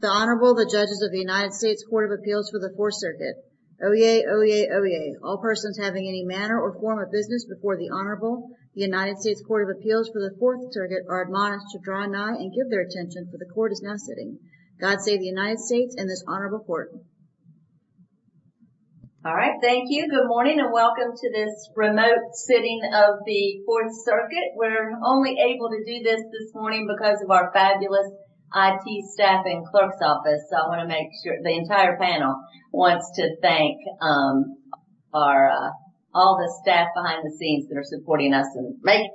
The Honorable, the Judges of the United States Court of Appeals for the Fourth Circuit. Oyez, oyez, oyez. All persons having any manner or form of business before the Honorable, the United States Court of Appeals for the Fourth Circuit are admonished to draw nigh and give their attention for the Court is now sitting. God save the United States and this Honorable Court. All right, thank you. Good morning and welcome to this remote sitting of the Fourth Circuit. We're only able to do this this morning because of our fabulous IT staff and clerk's office, so I want to make sure the entire panel wants to thank our all the staff behind the scenes that are supporting us and making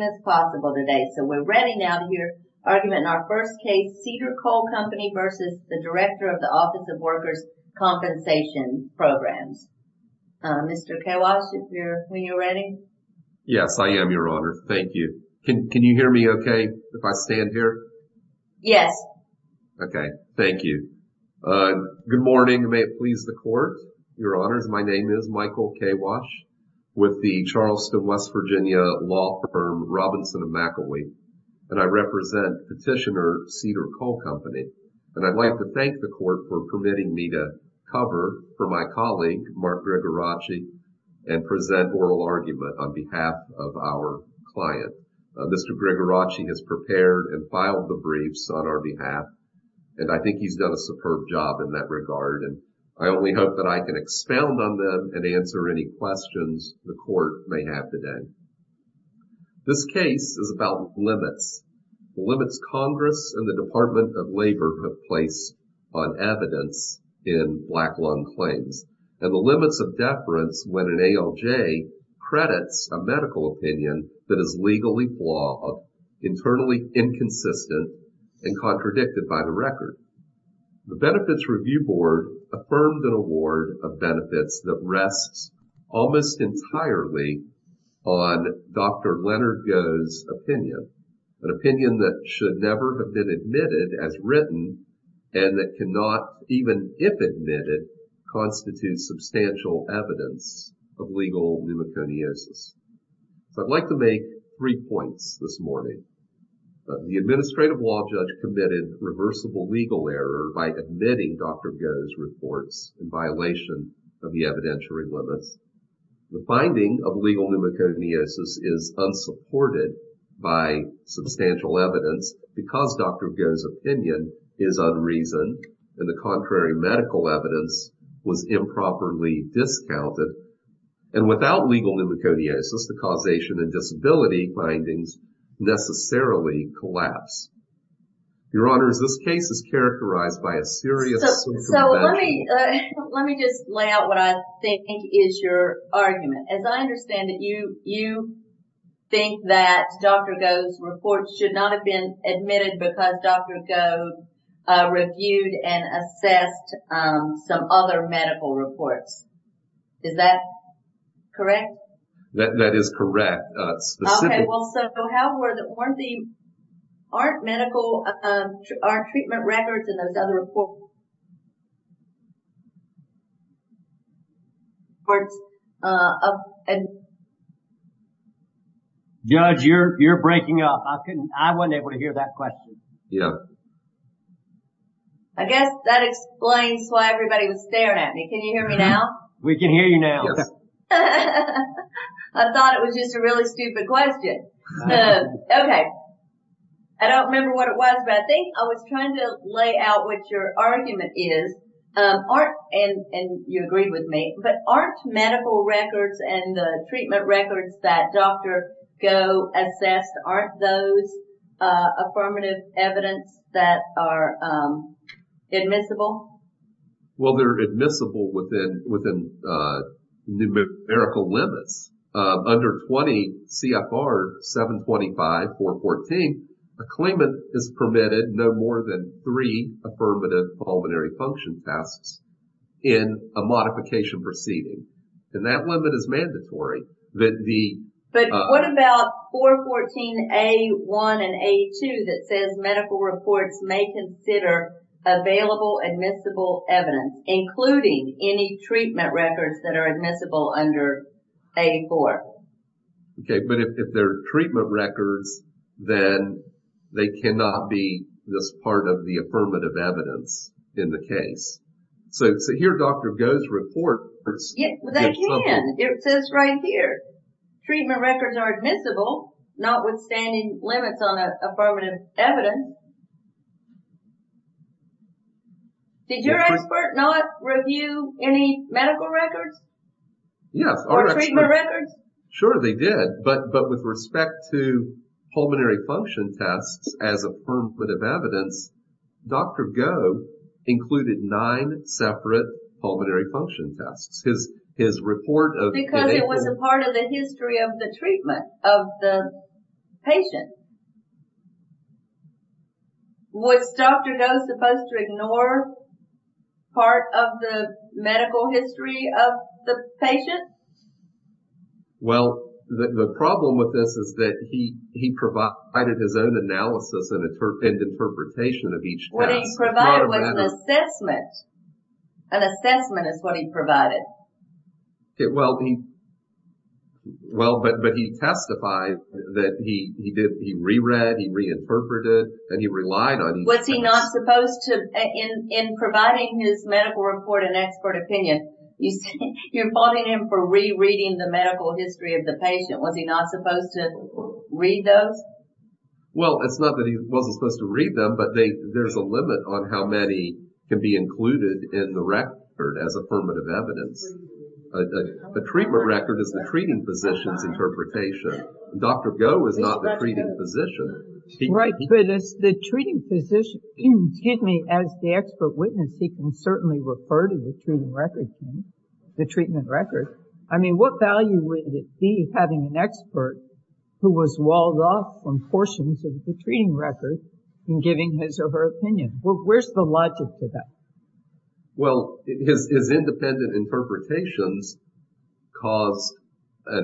this possible today. So we're ready now to hear argument in our first case, Cedar Coal Company v. the Director of the Office of Workers' Compensation Programs. Mr. Kawash, are you ready? Yes, I am, Your Honor. Thank you. Can you hear me okay if I stand here? Yes. Okay, thank you. Good morning. May it please the Court, Your Honors. My name is Michael Kawash with the Charleston, West Virginia law firm Robinson & McElwee, and I represent petitioner Cedar Coal Company. And I'd like to thank the Court for permitting me to cover for my colleague, Mark Gregoracci, and present oral argument on behalf of our client. Mr. Gregoracci has prepared and filed the briefs on our behalf, and I think he's done a superb job in that regard, and I only hope that I can expound on them and answer any questions the Court may have today. This case is about limits, the limits Congress and the Department of Labor have placed on evidence in black lung claims, and the limits of deference when an ALJ credits a medical opinion that is legally flawed, internally inconsistent, and contradicted by the record. The Benefits Review Board affirmed an award of benefits that rests almost entirely on Dr. Leonard Goh's opinion, an opinion that should never have been admitted as written, and that cannot, even if admitted, constitute substantial evidence of legal pneumoconiosis. So, I'd like to make three points this morning. The administrative law judge committed reversible legal error by admitting Dr. Goh's reports in violation of the evidentiary limits. The finding of legal pneumoconiosis is unsupported by substantial evidence because Dr. Goh's opinion is unreasoned, and the contrary medical evidence was improperly discounted. And without legal pneumoconiosis, the causation and disability findings necessarily collapse. Your Honor, is this case is characterized by a serious... So, let me just lay out what I think is your argument. As I understand it, you think that Dr. Goh's reports should not have been admitted because Dr. Goh reviewed and assessed some other medical reports. Is that correct? That is correct. Specifically. Okay, well, so how were the... Aren't medical... Aren't treatment records and those other reports... Judge, you're breaking up. I couldn't... I wasn't able to hear that question. Yeah. I guess that explains why everybody was staring at me. Can you hear me now? We can hear you now. I thought it was just a really stupid question. Okay. I don't remember what it was, but I think I was trying to lay out what your argument is. And you agreed with me, but aren't medical records and the treatment records that Dr. Goh assessed, aren't those affirmative evidence that are admissible? Well, they're admissible within numerical limits. Under 20 CFR 725, 414, a claimant is permitted no more than three affirmative pulmonary function tests in a modification proceeding. And that limit is mandatory. But what about 414A1 and A2 that says medical reports may consider available admissible evidence, including any treatment records that are admissible under A4? Okay. But if they're treatment records, then they cannot be this part of the affirmative evidence in the case. So here Dr. Goh's report... They can. It says right here, treatment records are admissible, notwithstanding limits on affirmative evidence. Did your expert not review any medical records? Yes. Or treatment records? Sure, they did. But with respect to pulmonary function tests as affirmative evidence, Dr. Goh included nine separate pulmonary function tests. His report of... Because it was a part of the history of the treatment of the patient. Was Dr. Goh supposed to ignore part of the medical history of the patient? Well, the problem with this is that he provided his own analysis and interpretation of each test. What he provided was an assessment. An assessment is what he provided. Okay. Well, but he testified that he re-read, he reinterpreted, and he relied on... Was he not supposed to... In providing his medical report and expert opinion, you're blaming him for re-reading the medical history of the patient. Was he not supposed to read those? Well, it's not that he wasn't supposed to read them, but there's a limit on how many can be included in the record as affirmative evidence. A treatment record is the treating physician's interpretation. Dr. Goh was not the treating physician. Right. But as the treating physician... Excuse me. As the expert witness, he can certainly refer to the treatment record. I mean, what value would it be having an expert who was walled off from portions of the treating record in giving his or her opinion? Where's the logic to that? Well, his independent interpretations cause the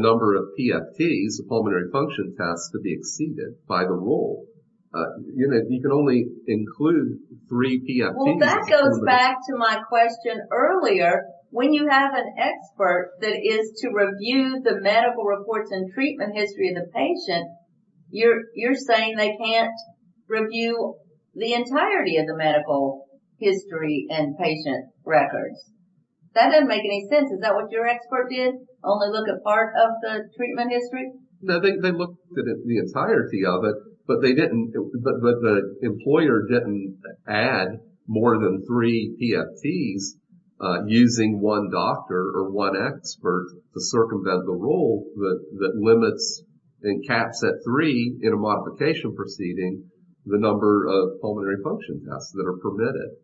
number of PFTs, pulmonary function tests, to be exceeded by the rule. You can only include three PFTs... Well, that goes back to my question earlier. When you have an expert that is to review the medical reports and treatment history of the patient, you're saying they can't review the entirety of the medical history and patient records. That doesn't make any sense. Is that what your expert did? Only look at part of the treatment history? No, they looked at the entirety of it, but the employer didn't add more than three PFTs using one doctor or one expert to circumvent the that limits and caps at three in a modification proceeding the number of pulmonary function tests that are permitted.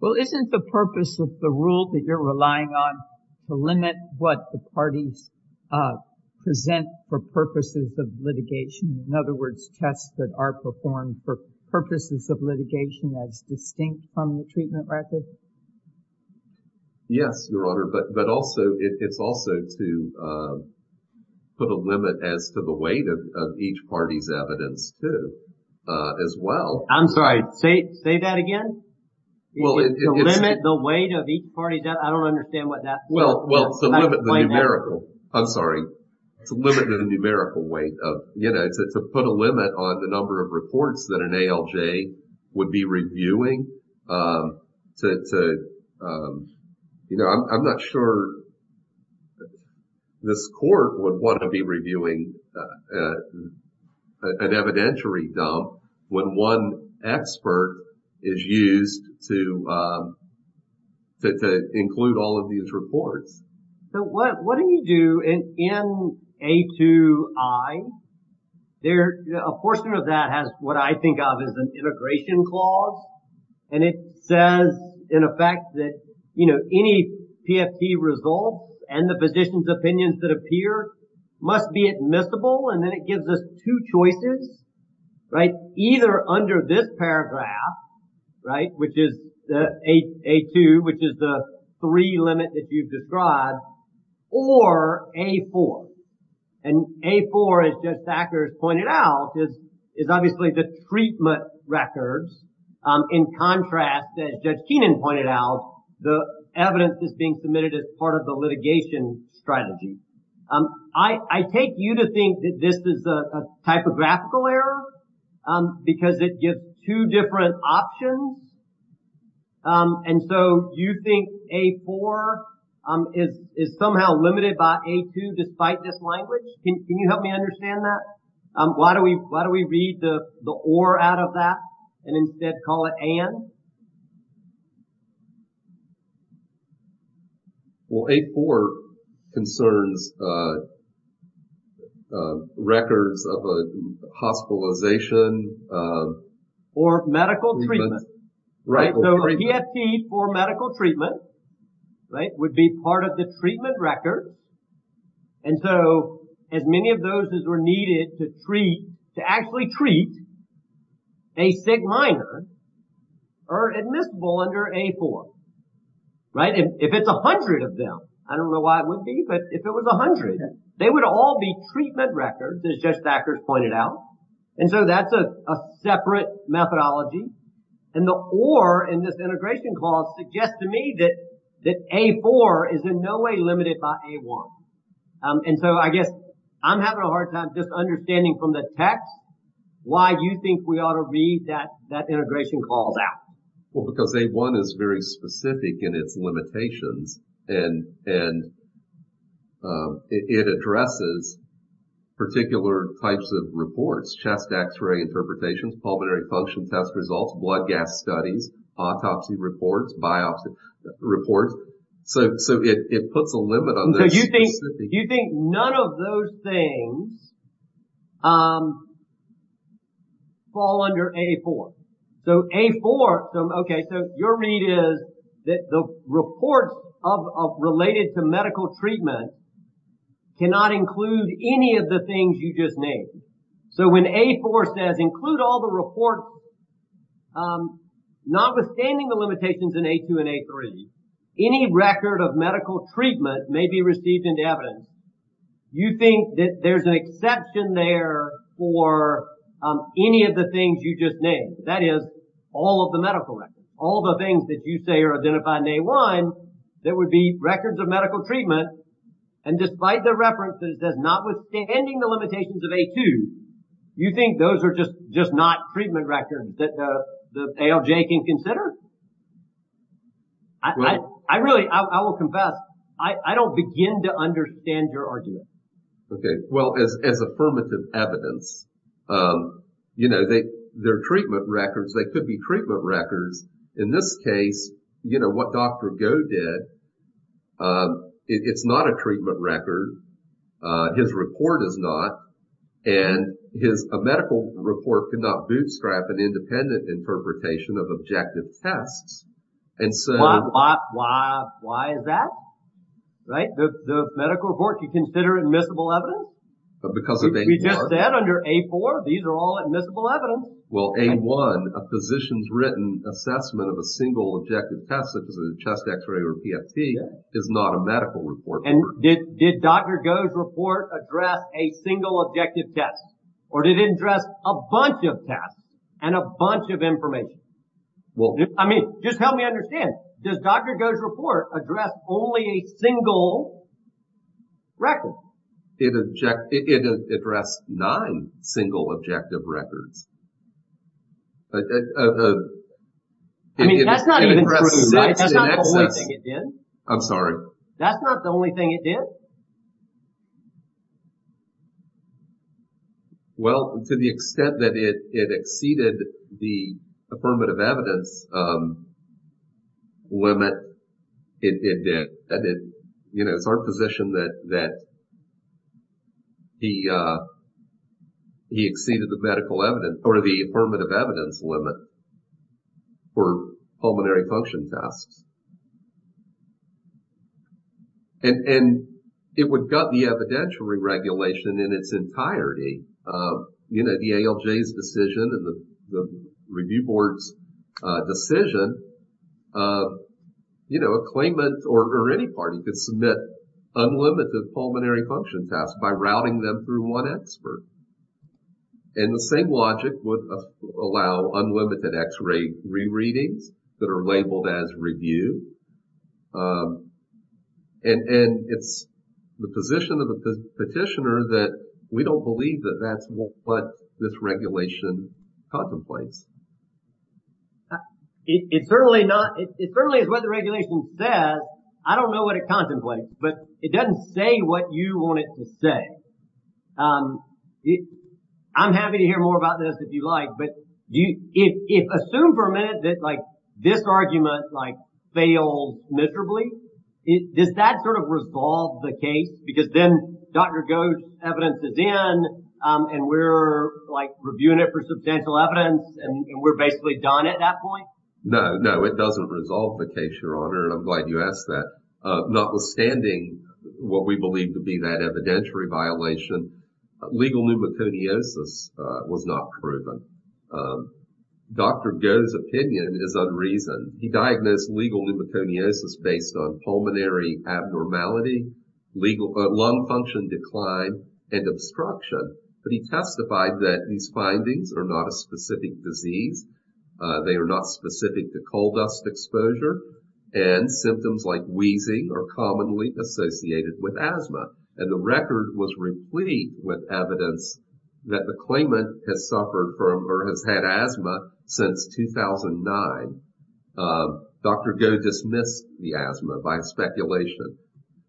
Well, isn't the purpose of the rule that you're relying on to limit what the parties present for purposes of litigation? In other words, tests that are performed for purposes of litigation that's distinct from the treatment record? Yes, Your Honor, but also it's also to put a limit as to the weight of each party's evidence too, as well. I'm sorry, say that again? Well, it's... To limit the weight of each party's... I don't understand what that... Well, to limit the numerical... I'm sorry. To limit the numerical weight of... To put a limit on the number of reports that an ALJ would be reviewing to... I'm not sure this court would want to be reviewing an evidentiary dump when one expert is used to include all of these reports. So, what do you do in A2I? A portion of that has what I think of as an integration clause, and it says in effect that, you know, any PFT results and the physician's opinions that appear must be admissible, and then it gives us two choices, right? Either under this paragraph, right, which is A2, which is the three limit that you've described, or A4. And A4, as Judge Sackler has pointed out, is obviously the treatment records. In contrast, as Judge Keenan pointed out, the evidence is being submitted as part of the litigation strategy. I take you to think that this is a typographical error because it gives two different options. And so, you think A4 is somehow limited by A2 despite this language? Can you help me understand that? Why don't we read the or out of that and instead call it and? Well, A4 concerns records of a hospitalization. Or medical treatment, right? So, PFT for medical treatment, right, would be part of the treatment record. And so, as many of those as were needed to treat, to actually treat, a sig minor are admissible under A4, right? If it's a hundred of them, I don't know why it would be, but if it was a hundred, they would all be treatment records, as Judge Sackler has pointed out. And so, that's a separate methodology. And the or in this integration clause suggests to me that A4 is in no way limited by A1. And so, I guess I'm having a hard time just understanding from the text why you think we ought to read that integration clause out. Well, because A1 is very specific in its limitations and it addresses particular types of reports, chest x-ray interpretations, pulmonary function test results, blood gas studies, autopsy reports, biopsy reports. So, it puts a limit on this. Do you think none of those things fall under A4? So, A4, okay, so your read is that the reports of related to medical treatment cannot include any of the things you just named. So, when A4 says include all the reports, notwithstanding the limitations in A2 and A3, any record of treatment may be received in the evidence. You think that there's an exception there for any of the things you just named, that is all of the medical records, all the things that you say are identified in A1 that would be records of medical treatment. And despite the reference that it says notwithstanding the limitations of A2, you think those are just not treatment records that ALJ can consider? I really, I will confess, I don't begin to understand your argument. Okay. Well, as affirmative evidence, you know, they're treatment records, they could be treatment records. In this case, you know, what Dr. Goh did, it's not a treatment record. His report is not. And his medical report could not bootstrap an interpretation of objective tests. And so... Why is that? Right? The medical report, you consider admissible evidence? Because of A4? We just said under A4, these are all admissible evidence. Well, A1, a physician's written assessment of a single objective test such as a chest x-ray or PFT is not a medical report. And did Dr. Goh's report address a single objective test or did it address a bunch of tests and a bunch of information? Well, I mean, just help me understand. Does Dr. Goh's report address only a single record? It addressed nine single objective records. I mean, that's not even true. That's not the only thing it did. I'm sorry. That's not the only thing it did. Well, to the extent that it exceeded the affirmative evidence limit, it did. You know, it's our position that he exceeded the medical evidence or the affirmative evidence limit for pulmonary function tests. And it would gut the evidentiary regulation in its entirety. You know, the ALJ's decision and the review board's decision, you know, a claimant or any party could submit unlimited pulmonary function tests by routing them through one expert. And the same logic would allow unlimited x-ray re-readings that are labeled as review. And it's the position of the petitioner that we don't believe that that's what this regulation contemplates. It certainly is what the regulation says. I don't know what it contemplates, but it doesn't say what you want it to say. I'm happy to hear more about this if you like, but if you assume for a minute that like this argument like failed miserably, does that sort of resolve the case? Because then Dr. Goch's evidence is in and we're like reviewing it for substantial evidence and we're basically done at that point? No, no, it doesn't resolve the case, Your Honor, and I'm glad you asked that. Notwithstanding what we believe to be that evidentiary violation, legal pneumoconiosis was not proven. Dr. Goch's opinion is unreasoned. He diagnosed legal pneumoconiosis based on pulmonary abnormality, lung function decline, and obstruction. But he testified that these findings are not a specific disease. They are not specific to coal dust exposure, and symptoms like wheezing are commonly associated with asthma. And the record was replete with evidence that the claimant has suffered from or has had asthma since 2009. Dr. Goch dismissed the asthma by speculation.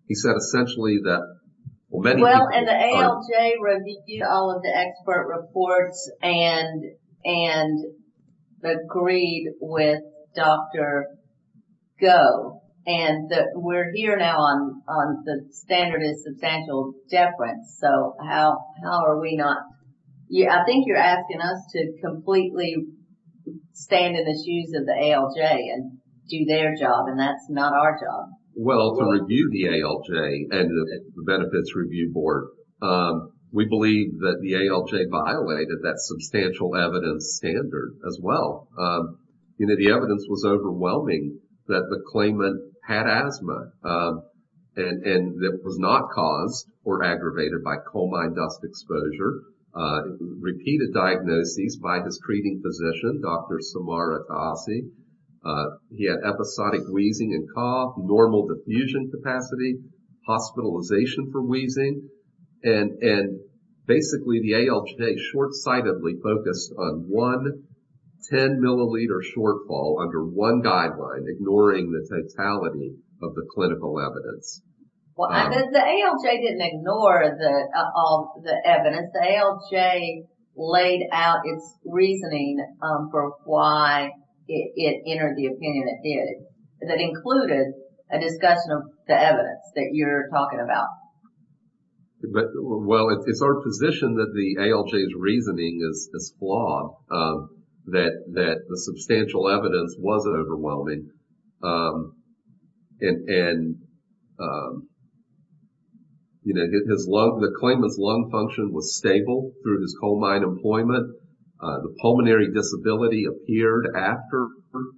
He said essentially that... Well, and the ALJ reviewed all of the expert reports and agreed with Dr. Goch. And we're here now on the standard of substantial deference, so how are we not... I think you're asking us to completely stand in the shoes of the ALJ and do their job, and that's not our job. Well, to review the ALJ and the Benefits Review Board, we believe that the ALJ violated that substantial evidence standard as well. You know, the evidence was overwhelming that the claimant had asthma, and it was not caused or aggravated by coal mine dust exposure, repeated diagnoses by his treating physician, Dr. Samara Ghassi. He had episodic wheezing and cough, normal diffusion capacity, hospitalization for wheezing, and basically the ALJ short-sightedly focused on one 10-milliliter shortfall under one guideline, ignoring the totality of the clinical evidence. Well, the ALJ didn't ignore all the evidence. The ALJ laid out its reasoning for why it entered the opinion it did. That included a discussion of the evidence that you're talking about. Well, it's our position that the ALJ's reasoning is flawed, that the substantial evidence wasn't overwhelming, and the claimant's lung function was stable through his coal mine employment. The pulmonary disability appeared after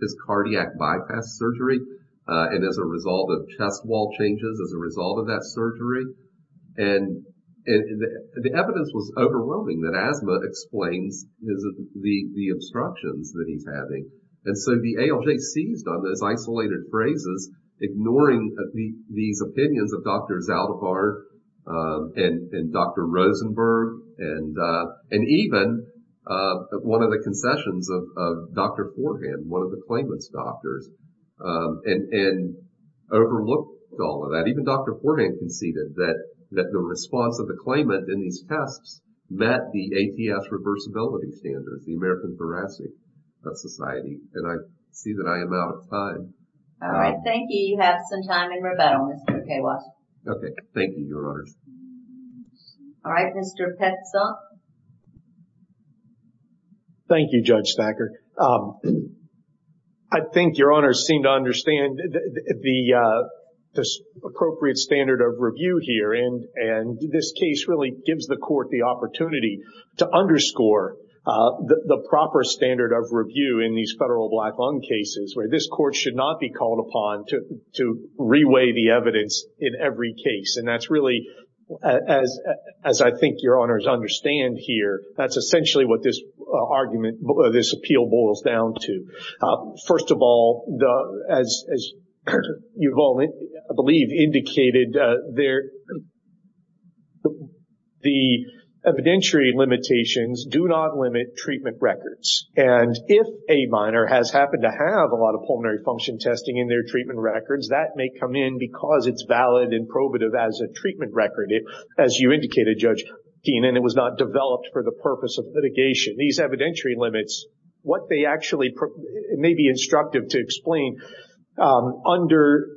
his cardiac bypass surgery and as a result of chest wall changes as a result of that surgery. And the evidence was overwhelming that asthma explains the obstructions that he's having. And so the ALJ seized on those isolated phrases, ignoring these opinions of Dr. Zaldivar and Dr. Rosenberg, and even one of the concessions of Dr. Forhan, one of the claimant's doctors, and overlooked all of that. Even Dr. Forhan conceded that the response of the claimant in these tests met the ATS reversibility standards, the American Barassi Society. And I see that I am out of time. All right. Thank you. You have some time in rebuttal, Mr. K. Walsh. Okay. Thank you, Your Honors. All right. Mr. Petzl. Thank you, Judge Thacker. I think Your Honors seem to understand the appropriate standard of review here. And this case really gives the court the opportunity to underscore the proper standard of review in these federal black lung cases, where this court should not be called upon to reweigh the evidence in every case. And that's really, as I think Your Honors understand here, that's essentially what this appeal boils down to. First of all, as you've all, I believe, indicated, the evidentiary limitations do not limit treatment records. And if a minor has happened to have a lot of pulmonary function testing in their treatment records, that may come in because it's valid and probative as a treatment record, as you indicated, Judge Keene, and it was not developed for the purpose of litigation. These evidentiary limits, what they actually, it may be instructive to explain, under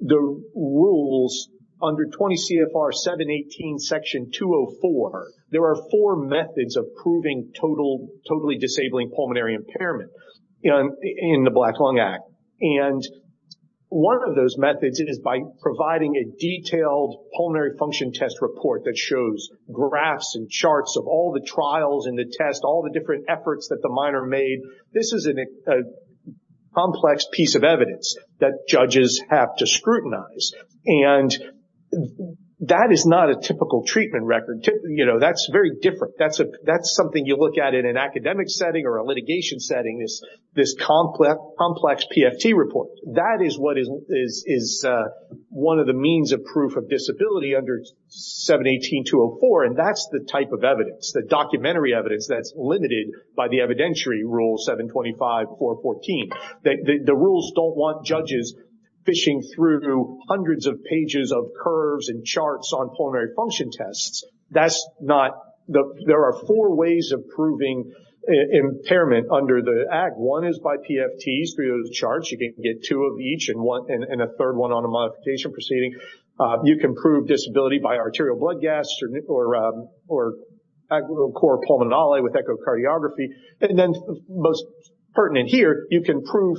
the rules, under 20 CFR 718, Section 204, there are four methods of proving totally disabling pulmonary impairment in the Black Lung Act. And one of those methods is by providing a detailed pulmonary function test report that shows graphs and charts of all the trials and the tests, all the different efforts that the minor made. This is a complex piece of evidence that judges have to scrutinize. And that is not a typical treatment record. That's very different. That's something you look at in an academic setting or a litigation setting, this complex PFT report. That is what one of the means of proof of disability under 718-204, and that's the type of evidence, the documentary evidence, that's limited by the evidentiary rule 725-414. The rules don't want judges fishing through hundreds of pages of curves and charts on pulmonary function tests. There are four ways of proving impairment under the Act. One is by PFTs through the charts. You can get two of each and a third one on a modification proceeding. You can prove disability by arterial blood gas or core pulmonary with echocardiography. And then most pertinent here, you can prove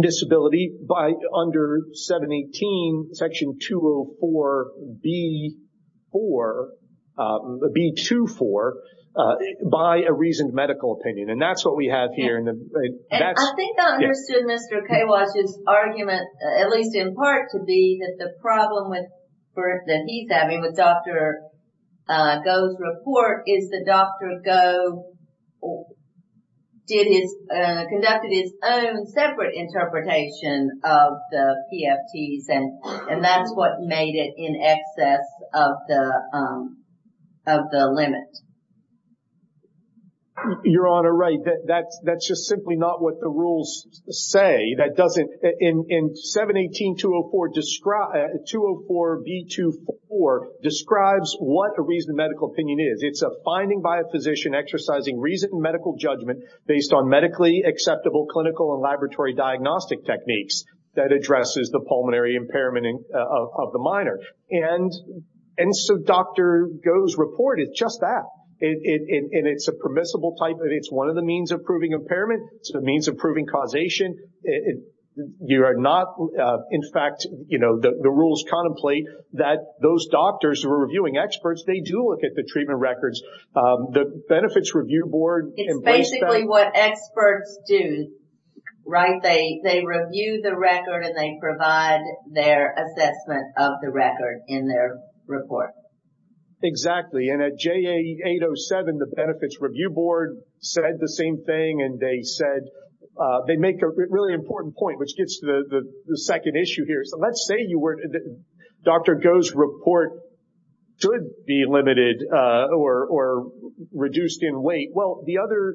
disability by under 718-204-B24 by a reasoned medical opinion. And that's what we have here. I think I understood Mr. Kawash's argument, at least in part, to be that the problem with Heath, I mean, with Dr. Goh's report is that Dr. Goh conducted his own separate interpretation of the PFTs, and that's what made it in excess of the limit. Your Honor, right. That's just simply not what the rules say. In 718-204-B24 describes what a reasoned medical opinion is. It's a finding by a physician exercising reasoned medical judgment based on medically acceptable clinical and laboratory diagnostic techniques that addresses the pulmonary impairment of the minor. And so Dr. Goh's report is just that. And it's a permissible type. It's one of the means of proving impairment. It's a means of proving causation. You are not, in fact, you know, the rules contemplate that those doctors who are reviewing experts, they do look at the treatment records. The Benefits Review Board It's basically what experts do, right? They review the record and they provide their assessment of in their report. Exactly. And at JA807, the Benefits Review Board said the same thing, and they said, they make a really important point, which gets to the second issue here. So let's say Dr. Goh's report could be limited or reduced in weight. Well, the other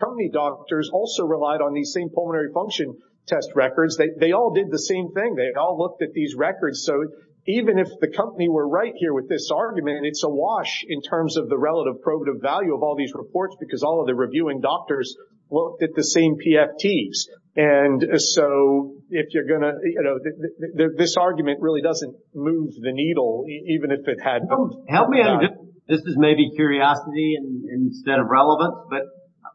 company doctors also relied on these same pulmonary function test records. They all did the same thing. They all looked at these records. So even if the company were right here with this argument, and it's a wash in terms of the relative probative value of all these reports because all of the reviewing doctors looked at the same PFTs. And so if you're going to, you know, this argument really doesn't move the needle, even if it had. Help me out. This is maybe curiosity instead of relevance. But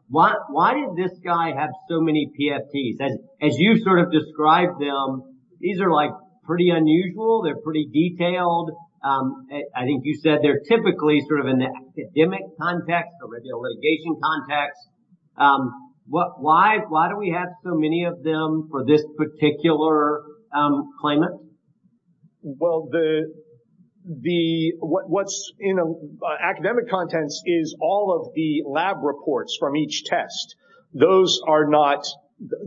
why did this guy have so many PFTs? As you sort of described them, these are like pretty unusual. They're pretty detailed. I think you said they're typically sort of in the academic context or the litigation context. Why do we have so many of them for this particular claimant? Well, the what's in academic contents is all of the lab reports from each test. Those are not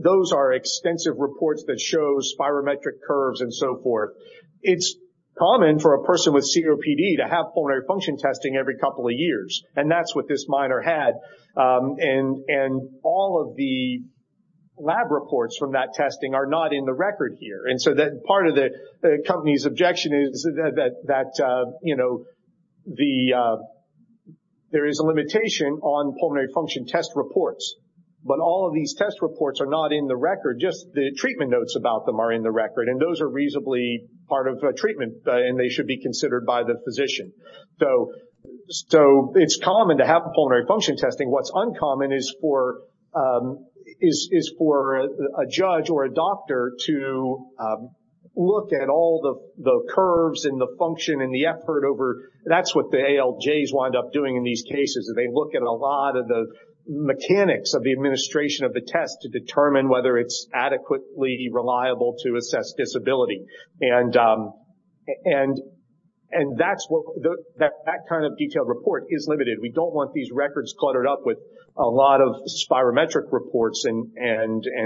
those are extensive reports that shows spirometric curves and so forth. It's common for a person with COPD to have pulmonary function testing every couple of years. And that's what this minor had. And all of the lab reports from that testing are not in the record here. And so that part of the company's objection is that, you know, there is a limitation on pulmonary function test reports. But all of these test reports are not in the record. Just the treatment notes about them are in the record. And those are reasonably part of the treatment. And they should be considered by the physician. So it's common to have pulmonary function testing. What's uncommon is for a judge or a doctor to look at all the curves and the function and the effort over. That's what the ALJs wind up doing in these cases. They look at a lot of the mechanics of the administration of the test to determine whether it's adequately reliable to assess disability. And that kind of detailed report is limited. We don't want these records cluttered up with a lot of spirometric reports. And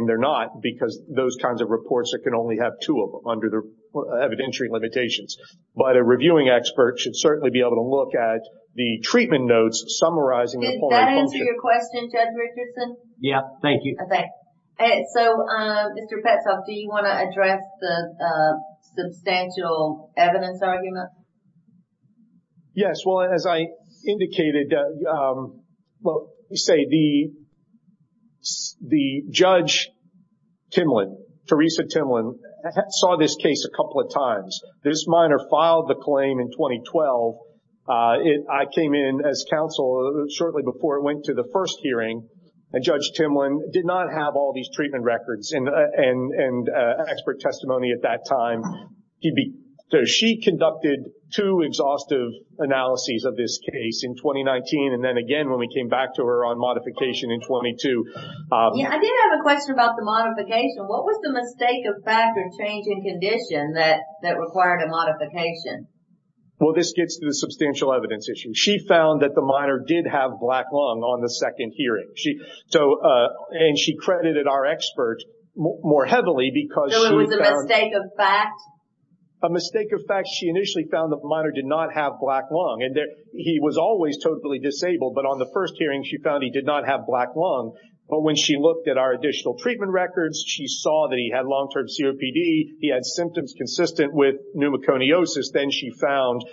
they're not because those kinds of reports can only have two of them under the evidentiary limitations. But a reviewing expert should certainly be able to look at the treatment notes summarizing the pulmonary function. Did that answer your question, Judge Richardson? Yeah. Thank you. So, Mr. Petzolff, do you want to address the substantial evidence argument? Yes. Well, as I indicated, we say the Judge Timlin, Teresa Timlin, saw this case a couple of times. This minor filed the claim in 2012. I came in as counsel shortly before it went to the first hearing. And Judge Timlin did not have all these treatment records and expert testimony at that time. So, she conducted two exhaustive analyses of this case in 2019 and then again when we came back to her on modification in 22. Yeah. I did have a question about the modification. What was the mistake of fact or change in condition that required a modification? Well, this gets to the substantial evidence issue. She found that the minor did have black lung on the second hearing. And she credited our expert more heavily because she found... A mistake of fact? A mistake of fact. She initially found the minor did not have black lung. And he was always totally disabled. But on the first hearing, she found he did not have black lung. But when she looked at our additional treatment records, she saw that he had long-term COPD. He had symptoms consistent with pneumoconiosis. Then she found,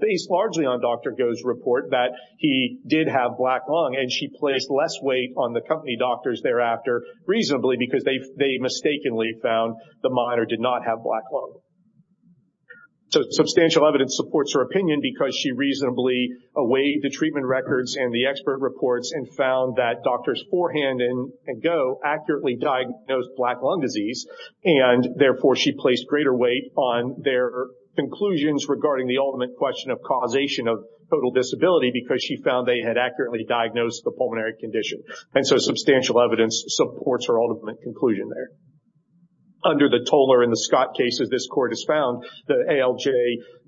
based largely on Dr. Goh's report, that he did have black lung. And she placed less weight on the company doctors thereafter, reasonably, because they mistakenly found the minor did not have black lung. So, substantial evidence supports her opinion because she reasonably weighed the treatment records and the expert reports and found that doctors forehand and Goh accurately diagnosed black lung disease. And therefore, she placed greater weight on their conclusions regarding the ultimate question of causation of total disability because she found they had accurately diagnosed the pulmonary condition. And so, substantial evidence supports her ultimate conclusion there. Under the Toller and the Scott cases, this court has found that ALJ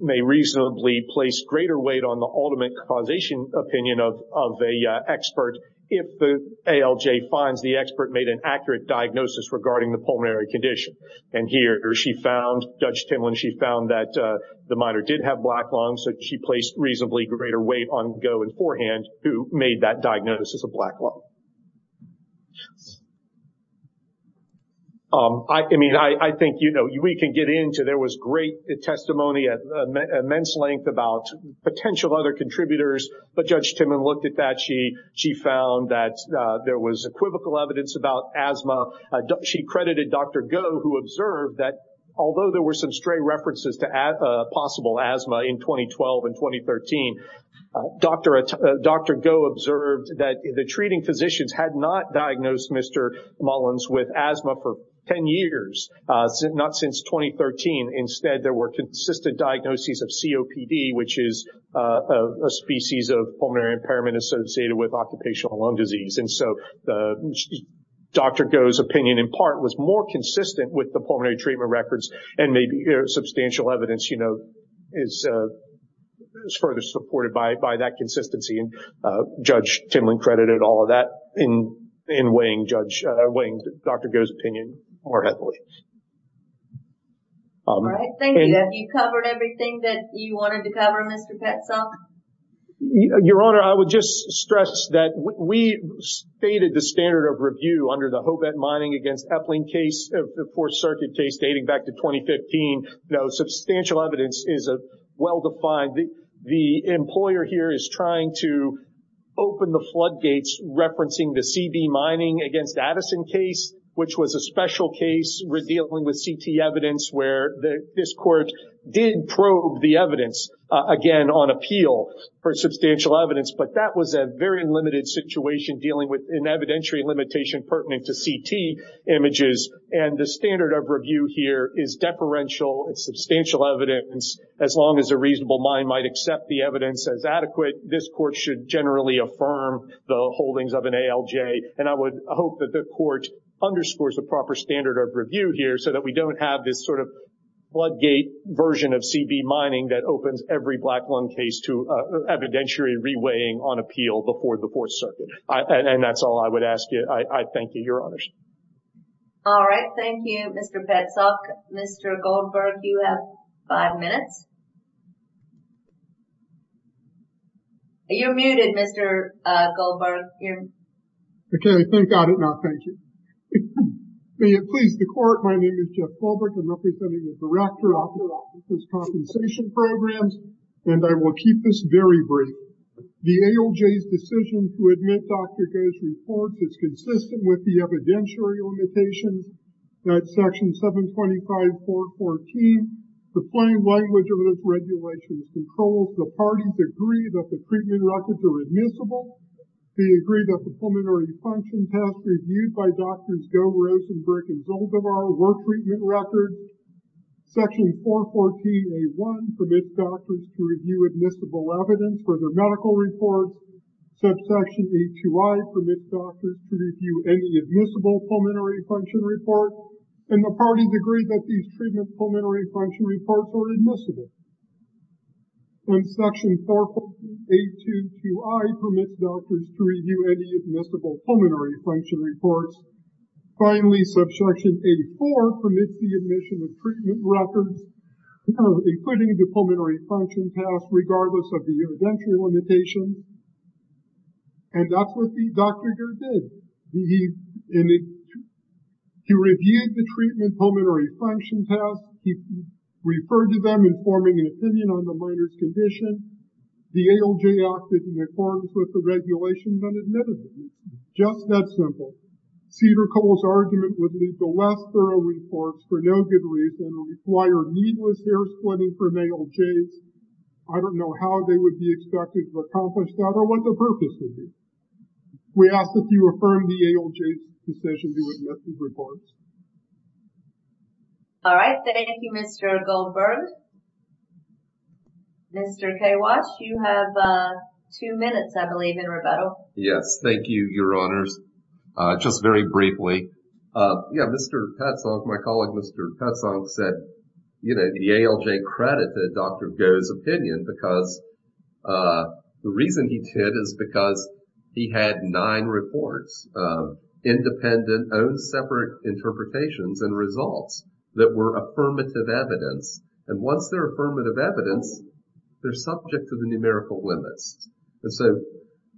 may reasonably place greater weight on the ultimate causation opinion of the expert if the ALJ finds the expert made an accurate diagnosis regarding the pulmonary condition. And here, she found, Judge Timlin, she found that the minor did have black lung. So, she placed reasonably greater weight on Goh and forehand who made that diagnosis of black lung. I mean, I think, you know, we can get into, there was great testimony at immense length about potential other contributors, but Judge Timlin looked at that. She found that there was equivocal evidence about asthma. She credited Dr. Goh, who observed that although there were some stray references to possible asthma in 2012 and 2013, Dr. Goh observed that the treating physicians had not diagnosed Mr. Mullins with asthma for 10 years, not since 2013. Instead, there were consistent diagnoses of COPD, which is a species of pulmonary impairment associated with occupational lung disease. And so, Dr. Goh's opinion, in part, was more consistent with the pulmonary treatment records and maybe substantial evidence, you know, is further supported by that consistency. And Judge Timlin credited all of that in weighing Judge, weighing Dr. Goh's opinion more heavily. All right. Thank you. Have you covered everything that you wanted to cover, Mr. Petzold? Your Honor, I would just stress that we stated the standard of review under the Hobet mining against Epling case, the Fourth Circuit case, dating back to 2015. Now, substantial evidence is well-defined. The employer here is trying to open the floodgates referencing the CB mining against Addison case, which was a special case dealing with CT evidence where this court did probe the evidence, again, on appeal for substantial evidence. But that was a very limited situation dealing with an evidentiary limitation pertinent to CT images. And the standard of review here is deferential. It's substantial evidence. As long as a reasonable mind might accept the evidence as adequate, this court should generally affirm the holdings of an ALJ. And I would hope that the court underscores the proper standard of review here so that we don't have this sort of floodgate version of CB mining that opens every black lung case to evidentiary reweighing on appeal before the Fourth Circuit. And that's all I would ask you. I thank you, Your Honors. All right. Thank you, Mr. Petzold. Mr. Goldberg, you have five minutes. You're muted, Mr. Goldberg. Okay. Thank God it not. Thank you. May it please the Court, my name is Jeff Goldberg. I'm representing the Director of Compensation Programs, and I will keep this very brief. The ALJ's decision to admit Dr. Goh's report is consistent with the evidentiary limitations that Section 725.414, the plain language of those regulations, controls the parties' agreement that the treatment records are admissible, the agreement that the pulmonary function test reviewed by Drs. Goh, Rosenberg, and Zoldovar were treatment records, Section 414.a1 permits doctors to review admissible evidence for their medical reports, Subsection 8.2i permits doctors to review any admissible pulmonary function reports, and the parties agree that these treatment pulmonary function reports are admissible. And Section 414.822i permits doctors to review any admissible pulmonary function reports. Finally, Subsection 8.4 permits the admission of treatment records, including the pulmonary function test, regardless of the evidentiary limitations. And that's what Dr. Goh did. He reviewed the treatment pulmonary function test. He referred to them in forming an opinion on the minor's condition. The ALJ acted in accordance with the regulations and admitted them. Just that simple. Cedar Cole's argument would leave the less thorough reports for no good reason and require needless hair-splitting from ALJs. I don't know how they would be expected to accomplish that or what the purpose would be. We ask that you affirm the ALJ's decision to admit these reports. All right. Thank you, Mr. Goldberg. Mr. Kawash, you have two minutes, I believe, in rebuttal. Yes. Thank you, Your Honors. Just very briefly. Yeah, Mr. Petzolk, my colleague Mr. Petzolk said, you know, the ALJ credited Dr. Goh's opinion because the reason he did is because he had nine reports of independent, own-separate interpretations and results that were affirmative evidence. And once they're affirmative evidence, they're subject to the numerical limits. And so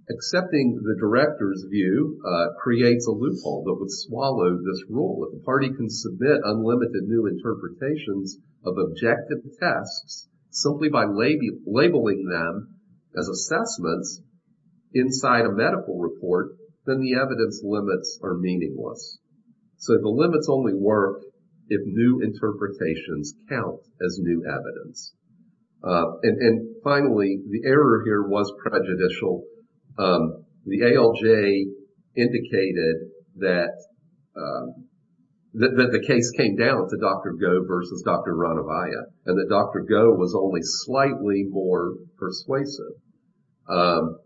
accepting the director's view creates a loophole that would swallow this rule. The party can submit unlimited new interpretations of objective tests simply by labeling them as assessments inside a medical report, then the evidence limits are meaningless. So the limits only work if new interpretations count as new evidence. And finally, the error here was prejudicial. The ALJ indicated that the case came down to Dr. Goh versus Dr. Adevaya and that Dr. Goh was only slightly more persuasive. And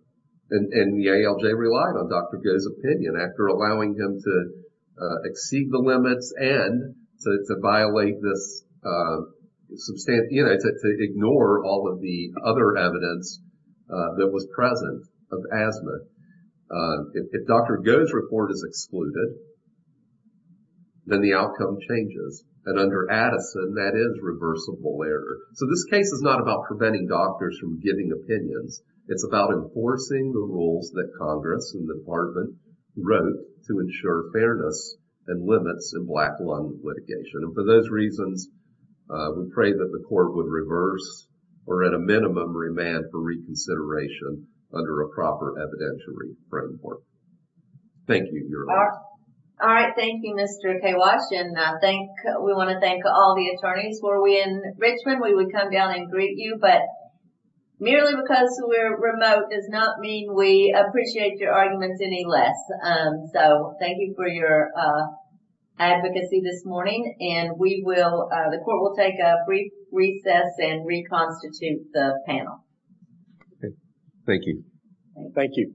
the ALJ relied on Dr. Goh's opinion after allowing him to exceed the limits and to violate this, you know, to ignore all of the other evidence that was present of asthma. If Dr. Goh's report is excluded, then the outcome changes. And under Addison, that is reversible error. So this case is not about preventing doctors from giving opinions. It's about enforcing the rules that Congress and the department wrote to ensure fairness and limits in black lung litigation. And for those reasons, we pray that the court would reverse or at a minimum remand for reconsideration under a proper evidentiary framework. Thank you, Your Honor. All right. Thank you, Mr. Kawash. And I think we want to thank all the attorneys. Were we in Richmond, we would come down and greet you. But merely because we're remote does not mean we appreciate your arguments any less. So thank you for your advocacy this morning. And we will, the court will take a brief recess and reconstitute the panel. Thank you. Thank you.